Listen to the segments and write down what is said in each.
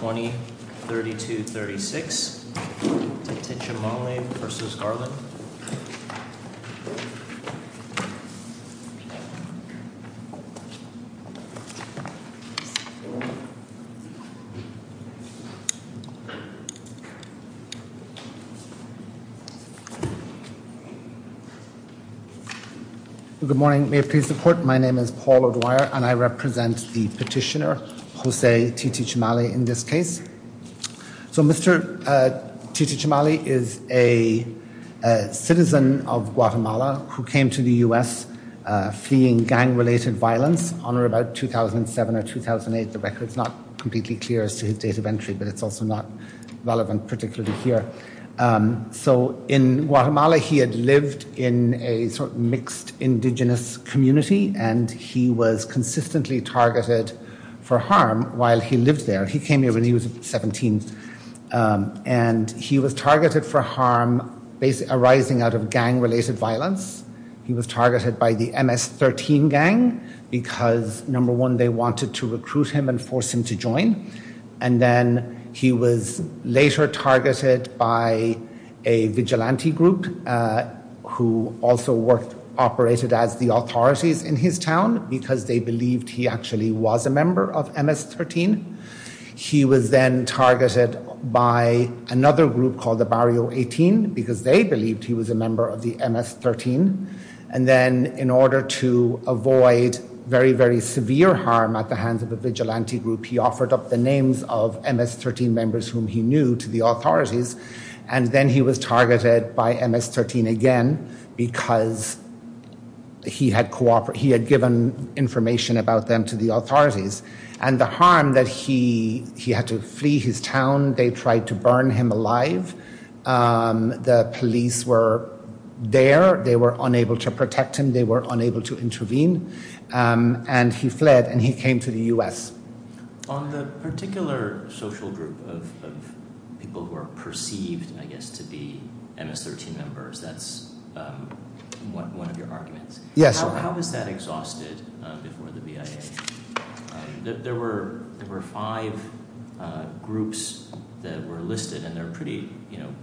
20, 32, 36. Titichamale v. Garland. Good morning. May it please the court, my name is Paul O'Dwyer and I represent the petitioner Jose Titichamale in this case. So Mr. Titichamale is a citizen of Guatemala who came to the U.S. fleeing gang-related violence on or about 2007 or 2008. The record is not completely clear as to his date of entry but it's also not relevant particularly here. So in Guatemala he had lived in a sort of mixed indigenous community and he was consistently targeted for harm while he lived there. He came here when he was 17 and he was targeted for harm arising out of gang-related violence. He was targeted by the MS-13 gang because number one they wanted to recruit him and force him to join and then he was later targeted by a vigilante group who also worked, operated as the authorities in his town because they actually was a member of MS-13. He was then targeted by another group called the Barrio 18 because they believed he was a member of the MS-13 and then in order to avoid very very severe harm at the hands of a vigilante group he offered up the names of MS-13 members whom he knew to the authorities and then he was targeted by MS-13 again because he had given information about them to the authorities and the harm that he had to flee his town they tried to burn him alive. The police were there, they were unable to protect him, they were unable to intervene and he fled and he came to the U.S. On the particular social group of people who are perceived I guess to be MS-13 members that's one of your arguments. Yes. How was that exhausted before the BIA? There were five groups that were listed and they're pretty, you know,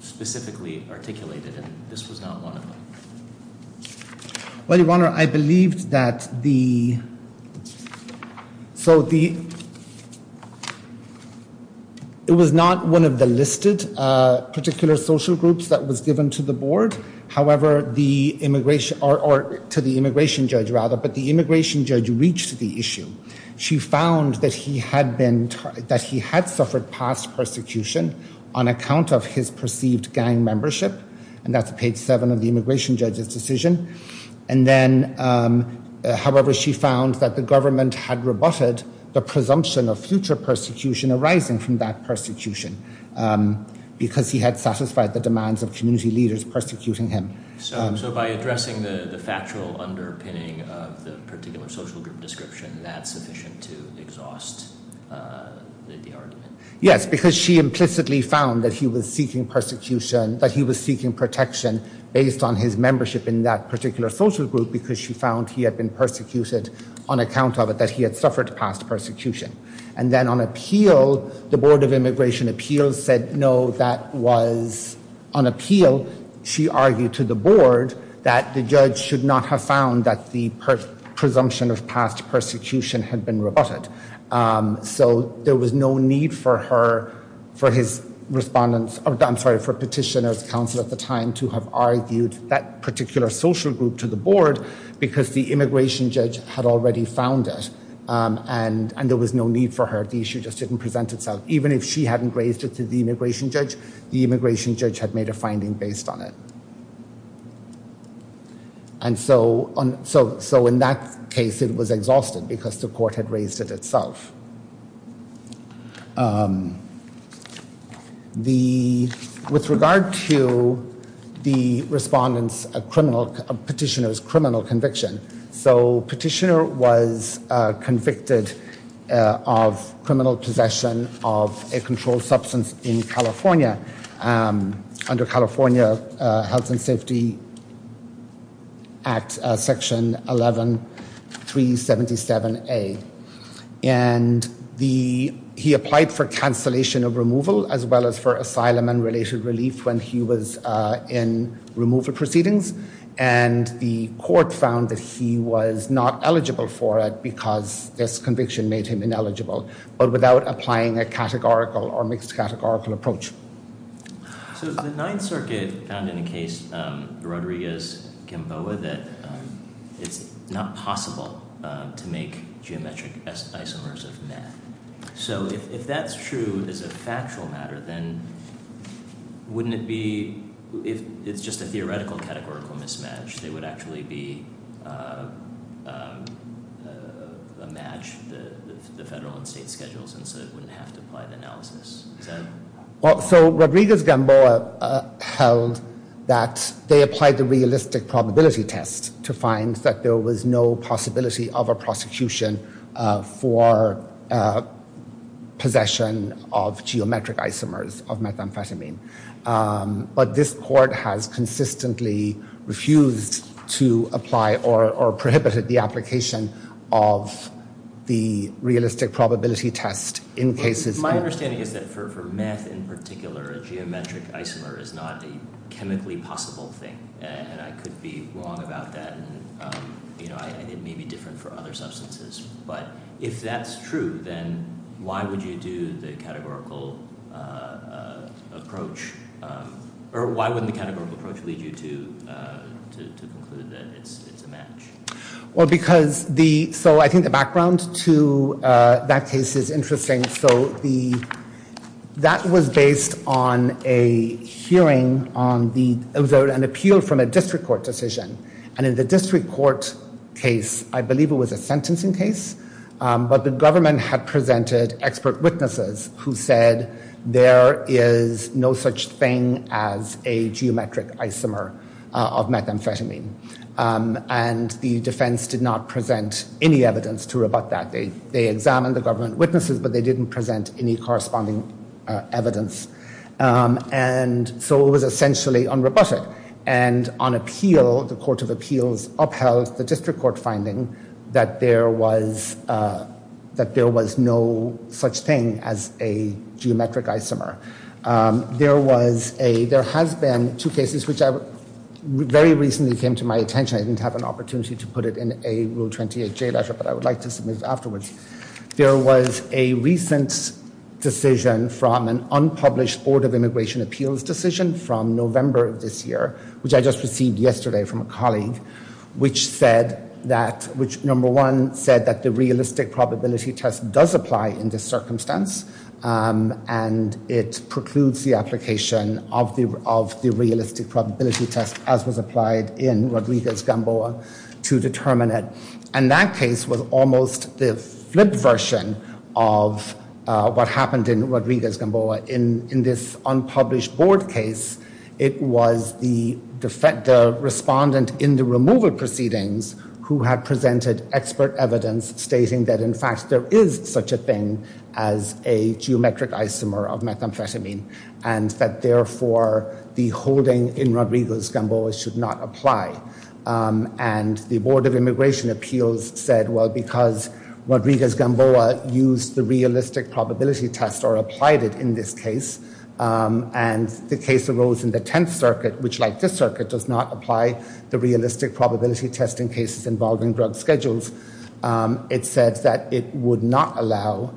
specifically articulated and this was not one of them. Well, Your Honor, I believed that the, so the, it was not one of the listed particular social groups that was given to the board, however, the immigration, or to the immigration judge rather, but the immigration judge reached the issue. She found that he had been, that he had suffered past persecution on account of his perceived gang membership and that's page seven of the immigration judge's decision and then, however, she found that the government had rebutted the presumption of future persecution arising from that persecution because he had satisfied the demands of community leaders persecuting him. So by addressing the factual underpinning of the particular social group description, that's sufficient to exhaust the argument? Yes, because she implicitly found that he was seeking persecution, that he was seeking protection based on his membership in that particular social group because she found he had been persecuted on account of it, that he had suffered past persecution. And then on appeal, the Board of Immigration Appeals said no, that was on appeal. She argued to the board that the judge should not have found that the presumption of past persecution had been rebutted. So there was no need for her, for his respondents, I'm sorry, for petitioners, council at the time to have argued that particular social group to the board because the immigration judge had already found it and there was no need for her. The issue just didn't present itself. Even if she hadn't raised it to the immigration judge, the immigration judge had made a finding based on it. And so in that case, it was exhausted because the court had raised it itself. The, with regard to the respondents' criminal, petitioner's criminal conviction. So petitioner was convicted of criminal possession of a controlled substance in California under California Health and Safety Act Section 11377A. And the petitioner was convicted of possession of a controlled substance. And the, he applied for cancellation of removal as well as for asylum and related relief when he was in removal proceedings. And the court found that he was not eligible for it because this conviction made him ineligible. But without applying a categorical or mixed categorical approach. So the Ninth Circuit found in a case, Rodriguez-Gamboa, that it's not possible to make geometric isomers of math. So if that's true as a factual matter, then wouldn't it be, if it's just a theoretical categorical mismatch, they would actually be a match, the federal and state schedules, and so it wouldn't have to apply the analysis. Is that? So Rodriguez-Gamboa held that they applied the realistic probability test to find that there was no possibility of a prosecution for possession of geometric isomers of methamphetamine. But this court has consistently refused to apply or prohibited the application of the realistic probability test in cases. My understanding is that for math in particular, a geometric isomer is not a chemically possible thing, and I could be wrong about that, and it may be different for other substances. But if that's true, then why would you do the categorical approach, or why wouldn't the categorical approach lead you to conclude that it's a match? Well, because the, so I think the background to that case is interesting. So the, that was based on a appeal from a district court decision, and in the district court case, I believe it was a sentencing case, but the government had presented expert witnesses who said there is no such thing as a geometric isomer of methamphetamine, and the defense did not present any evidence to rebut that. They examined the government witnesses, but they didn't present any corresponding evidence, and so it was essentially unrebutted. And on appeal, the Court of Appeals upheld the district court finding that there was, that there was no such thing as a geometric isomer. There was a, there has been two cases which very recently came to my attention. I didn't have an opportunity to put it in a Rule 28J letter, but I would like to submit it afterwards. There was a recent decision from an unpublished Board of Immigration Appeals decision from November of this year, which I just received yesterday from a colleague, which said that, which number one said that the realistic probability test does apply in this circumstance, and it precludes the application of the, of the realistic probability test as was applied in Rodriguez-Gamboa to determine it. And that case was almost the flip version of what happened in Rodriguez-Gamboa. In this unpublished Board case, it was the defendant, the respondent in the removal proceedings who had presented expert evidence stating that in fact there is such a thing as a geometric isomer of methamphetamine, and that therefore the holding in Rodriguez- Gamboa should not apply. And the Board of Immigration Appeals said, well, because Rodriguez-Gamboa used the realistic probability test or applied it in this case, and the case arose in the Tenth Circuit, which like this circuit does not apply the realistic probability testing cases involving drug schedules, it said that it would not allow,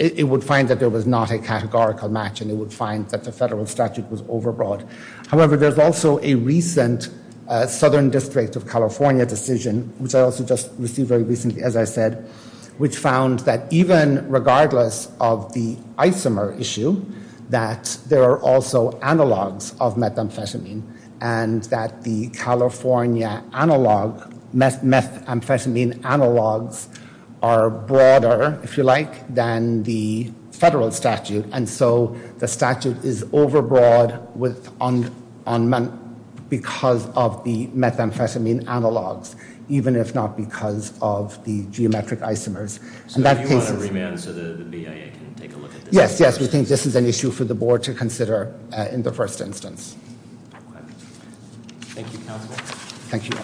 it would find that there was not a categorical match and it would find that the federal statute was overbroad. However, there's also a recent Southern District of California decision, which I also just received very recently, as I said, which found that even regardless of the isomer issue, that there are also methamphetamine analogs of methamphetamine, and that the California analog, methamphetamine analogs are broader, if you like, than the federal statute. And so the statute is overbroad because of the methamphetamine analogs, even if not because of the geometric isomers. So if you want to remand so the BIA can take a look at this. Yes, yes, we think this is an issue for the Board to consider in the first instance. Thank you, Counsel. Thank you.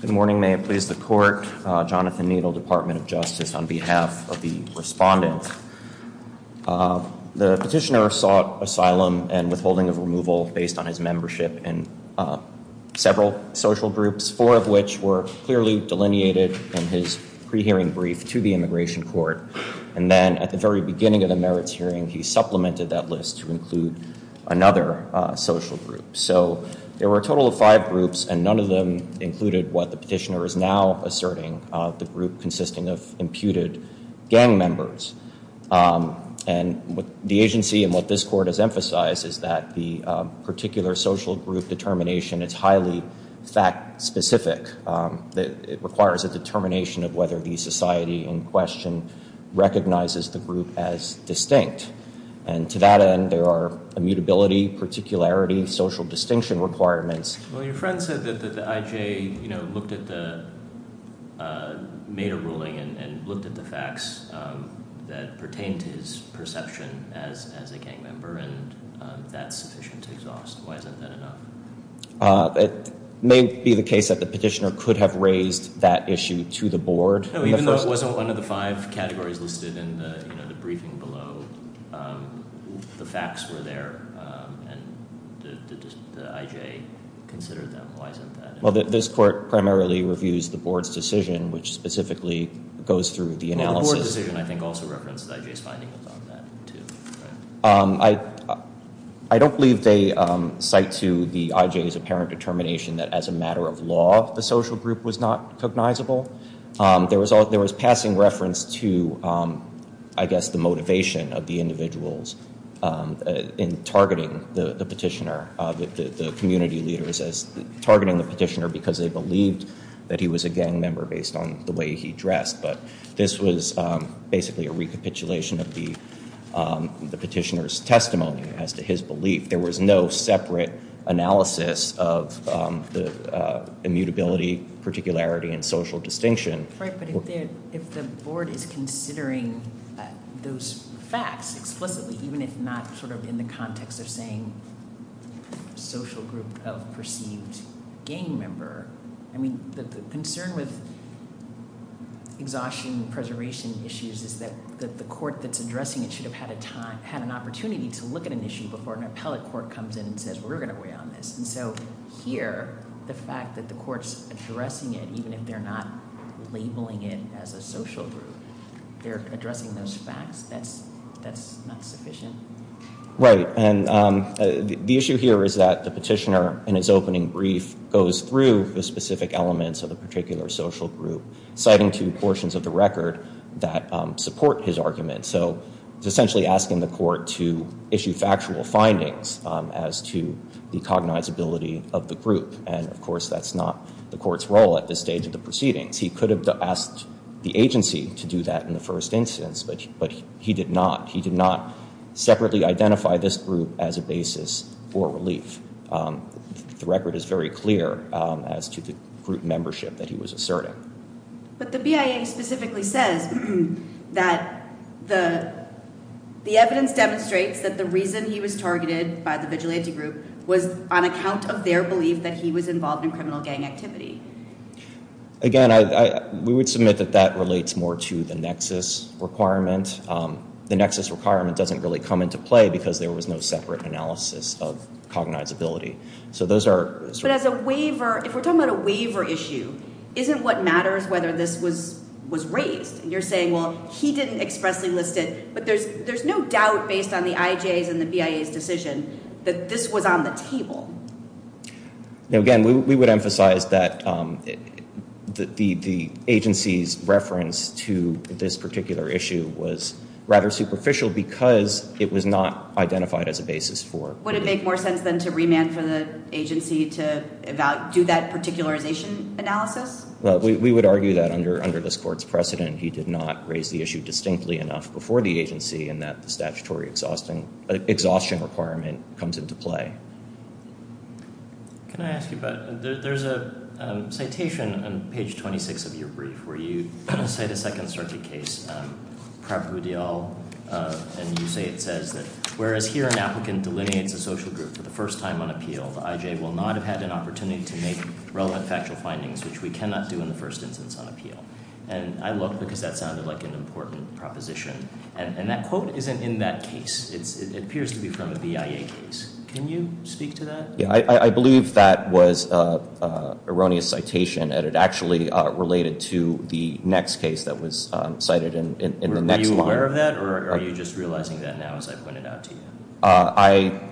Good morning, may it please the Court. Jonathan Needle, Department of Justice, on behalf of the respondents. The petitioner sought asylum and withholding of removal based on his membership in several social groups, four of which were clearly delineated in his pre-hearing brief to the Immigration Court. And then at the very beginning of the merits hearing, he supplemented that list to include another social group. So there were a total of five groups and none of them included what the petitioner is now asserting, the group consisting of imputed gang members. And what the agency and what this Court has emphasized is that the particular social group determination is highly fact specific. It requires a determination of whether the society in question recognizes the group as distinct. And to that end, there are immutability, particularity, social distinction requirements. Well, your friend said that the IJ, you know, made a ruling and looked at the facts that pertain to his perception as a gang member and that's sufficient to exhaust. Why isn't that enough? It may be the case that the petitioner could have raised that issue to the Board. Even though it wasn't one of the five categories listed in the briefing below, the facts were there and the IJ considered them. Why isn't that enough? Well, this Court primarily reviews the Board's decision, which specifically goes through the analysis. Well, the Board's decision, I think, also references the IJ's findings on that, too. I don't believe they cite to the IJ's apparent determination that as a matter of law, the social group was not cognizable. There was passing reference to, I guess, the motivation of the individuals in targeting the petitioner, the community leaders as targeting the petitioner because they believed that he was a gang member based on the way he presented the petitioner's testimony as to his belief. There was no separate analysis of the immutability, particularity, and social distinction. Right, but if the Board is considering those facts explicitly, even if not sort of in the context of saying social group of perceived gang member, I mean, the concern with exhaustion preservation issues is that the Court that's addressing it should have had an opportunity to look at an issue before an appellate court comes in and says, we're going to weigh on this. And so here, the fact that the Court's addressing it, even if they're not labeling it as a social group, they're addressing those facts, that's not sufficient? Right, and the issue here is that the petitioner in his opening brief goes through the specific elements of the particular social group, citing two portions of the record that support his argument. So it's essentially asking the Court to issue factual findings as to the cognizability of the group. And of course, that's not the Court's role at this stage of the proceedings. He could have asked the agency to do that in the first instance, but he did not. He did not separately identify this group as a basis for relief. The record is very clear as to the group membership that he was asserting. But the BIA specifically says that the evidence demonstrates that the reason he was targeted by the vigilante group was on account of their belief that he was involved in criminal gang activity. Again, we would submit that that relates more to the nexus requirement. The nexus requirement doesn't really come into play because there was no separate analysis of cognizability. But if we're talking about a waiver issue, isn't what matters whether this was raised? You're saying, well, he didn't expressly list it, but there's no doubt based on the IJs and the BIA's decision that this was on the table. Again, we would emphasize that the agency's reference to this particular issue was rather superficial because it was not identified as a basis for relief. Would it make more sense then to remand for the agency to do that particularization analysis? We would argue that under this Court's precedent he did not raise the issue distinctly enough before the agency and that the statutory exhaustion requirement comes into play. There's a citation on page 26 of your brief where you cite a Second Circuit case. And you say it says, whereas here an applicant delineates a social group for the first time on appeal, the IJ will not have had an opportunity to make relevant factual findings, which we cannot do in the first instance on appeal. And I looked because that sounded like an important proposition. And that quote isn't in that case. It appears to be from a BIA case. Can you speak to that? I believe that was an erroneous citation. It actually related to the next case that was cited in the next line. Are you aware of that or are you just realizing that now as I point it out to you?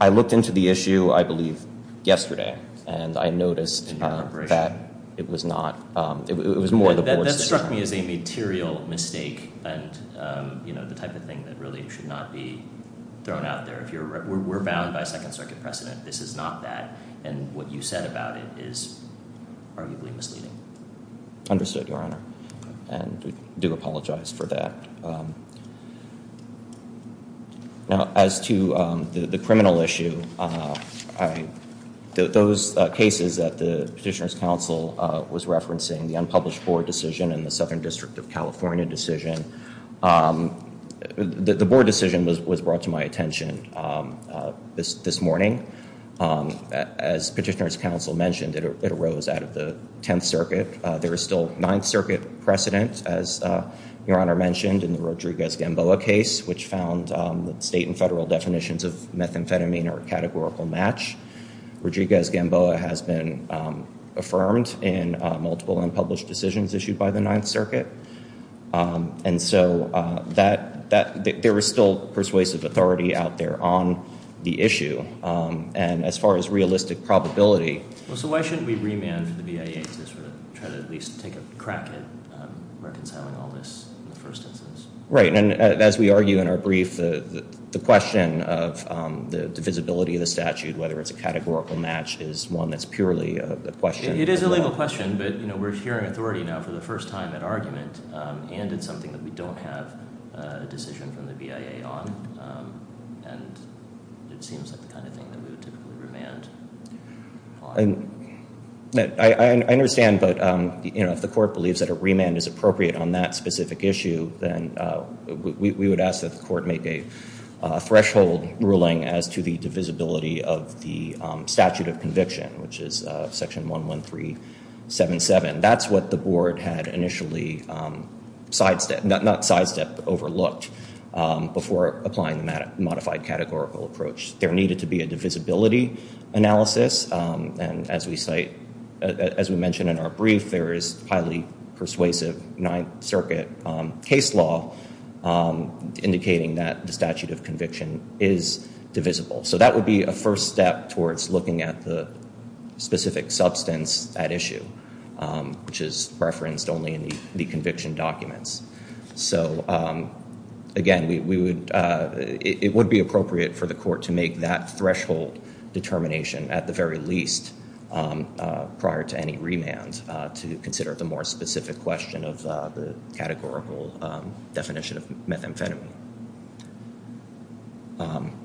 I looked into the issue, I believe, yesterday and I noticed that it was not, it was more the board's decision. That struck me as a material mistake and the type of thing that really should not be thrown out there. We're bound by Second Circuit precedent. This is not that. And what you said about it is arguably misleading. Understood, Your Honor. And we do apologize for that. Now, as to the criminal issue, those cases that the Petitioner's Council was referencing, the unpublished board decision and the Southern District of California decision, the board decision was brought to my attention this morning. As Petitioner's Council mentioned, it arose out of the Tenth Circuit. There is still Ninth Circuit precedent, as Your Honor mentioned, in the Rodriguez-Gamboa case, which found that state and federal definitions of methamphetamine are a categorical match. Rodriguez-Gamboa has been affirmed in multiple unpublished decisions issued by the Ninth Circuit, which are on the issue. And as far as realistic probability... So why shouldn't we remand the BIA to try to at least take a crack at reconciling all this in the first instance? Right. And as we argue in our brief, the question of the divisibility of the statute, whether it's a categorical match, is one that's purely a question. It is a legal question, but we're hearing authority now for the first time in argument, and it's something that we don't have a decision from the BIA on. And it seems like the kind of thing that we would typically remand on. I understand, but if the court believes that a remand is appropriate on that specific issue, then we would ask that the court make a threshold ruling as to the divisibility of the statute. That's what the board had initially sidestepped, not sidestepped, but overlooked, before applying the modified categorical approach. There needed to be a divisibility analysis. And as we cite, as we mentioned in our brief, there is highly persuasive Ninth Circuit case law indicating that the statute of conviction is divisible. So that would be a first step towards looking at the specific substance at issue, which is referenced only in the conviction documents. So again, it would be appropriate for the court to make that threshold determination at the very least prior to any remand to consider the more specific question of the categorical definition of methamphetamine.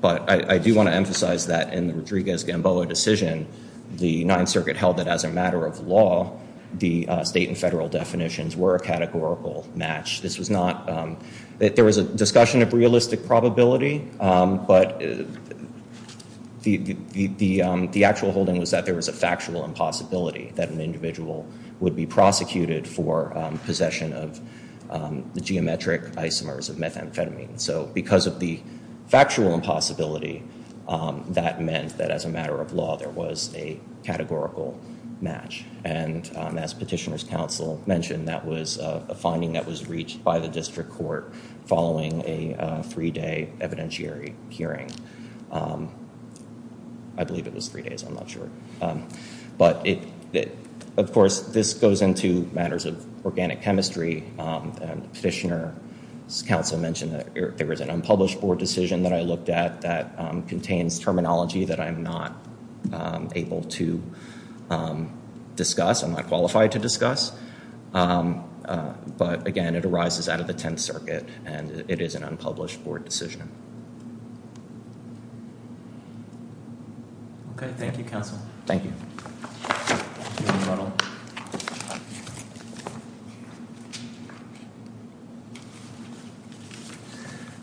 But I do want to emphasize that in the Rodriguez-Gamboa decision, the Ninth Circuit held that as a matter of law, the state and federal definitions were a categorical match. There was a discussion of realistic probability, but the actual holding was that there was a factual impossibility that an individual would be prosecuted for possession of the geometric isomers of methamphetamine. So because of the factual impossibility, that meant that as a matter of law, there was a categorical match. And as Petitioner's Counsel mentioned, that was a finding that was reached by the district court following a three-day evidentiary hearing. I believe it was three days, I'm not sure. But of course, this goes into matters of organic chemistry. Petitioner's Counsel mentioned that there was an unpublished board decision that I looked at that contains terminology that I'm not able to discuss, I'm not qualified to discuss. But again, it arises out of the Tenth Circuit and it is an unpublished board decision. Okay. Thank you, Counsel. Thank you.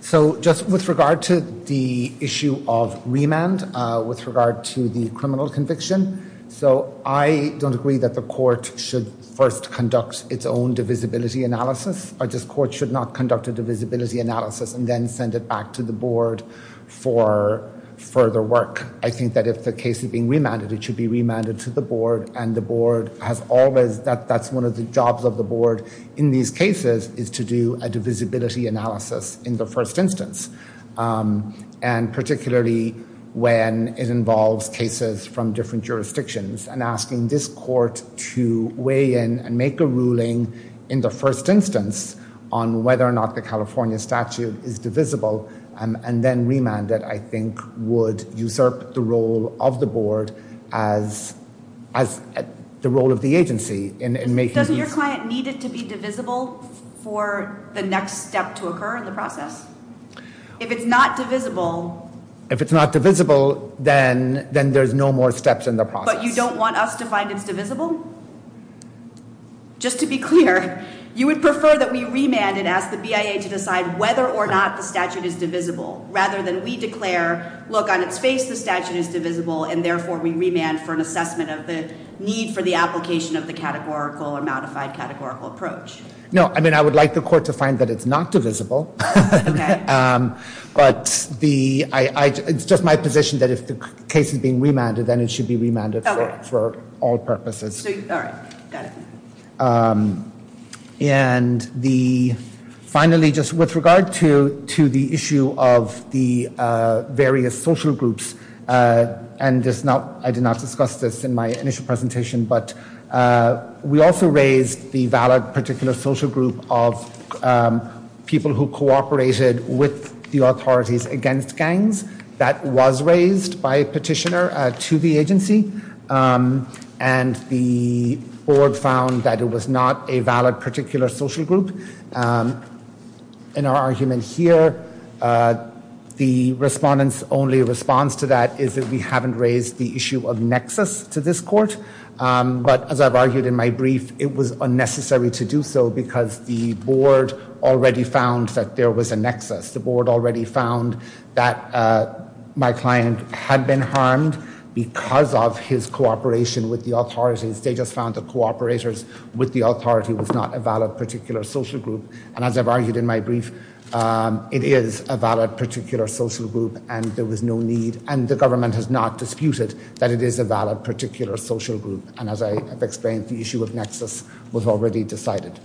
So just with regard to the issue of remand, with regard to the criminal conviction. So I don't agree that the court should first conduct its own divisibility analysis. This court should not conduct a divisibility analysis and then send it back to the board for further work. I think that if the case is being remanded, it should be remanded to the board and the board has always, that's one of the jobs of the board in these cases, is to do a divisibility analysis in the first instance. And particularly when it involves cases from different jurisdictions and asking this court to weigh in and make a ruling in the first instance on whether or not the California statute is divisible and then remand it, I think would usurp the role of the board as the role of the agency. Doesn't your client need it to be divisible for the next step to occur in the process? If it's not divisible then there's no more steps in the process. But you don't want us to find it's divisible? Just to be clear, you would prefer that we remand and ask the BIA to decide whether or not the statute is divisible and therefore we remand for an assessment of the need for the application of the categorical or modified categorical approach? No, I mean I would like the court to find that it's not divisible. But it's just my position that if the case is being remanded then it should be remanded for discussion. Finally, just with regard to the issue of the various social groups and I did not discuss this in my initial presentation, but we also raised the valid particular social group of people who cooperated with the authorities against gangs. That was raised by a petitioner to the agency. And the board found that it was not a valid particular social group. In our argument here, the respondents only response to that is that we haven't raised the issue of nexus to this court. But as I've argued in my brief, it was unnecessary to do so because the board already found that there was a nexus. The board already found that my client had been harmed because of his cooperation with the authorities. They just found the cooperators with the authority was not a valid particular social group. And as I've argued in my brief, it is a valid particular social group and there was no need and the government has not disputed that it is a valid particular social group. And as I've explained, the issue of nexus was already decided.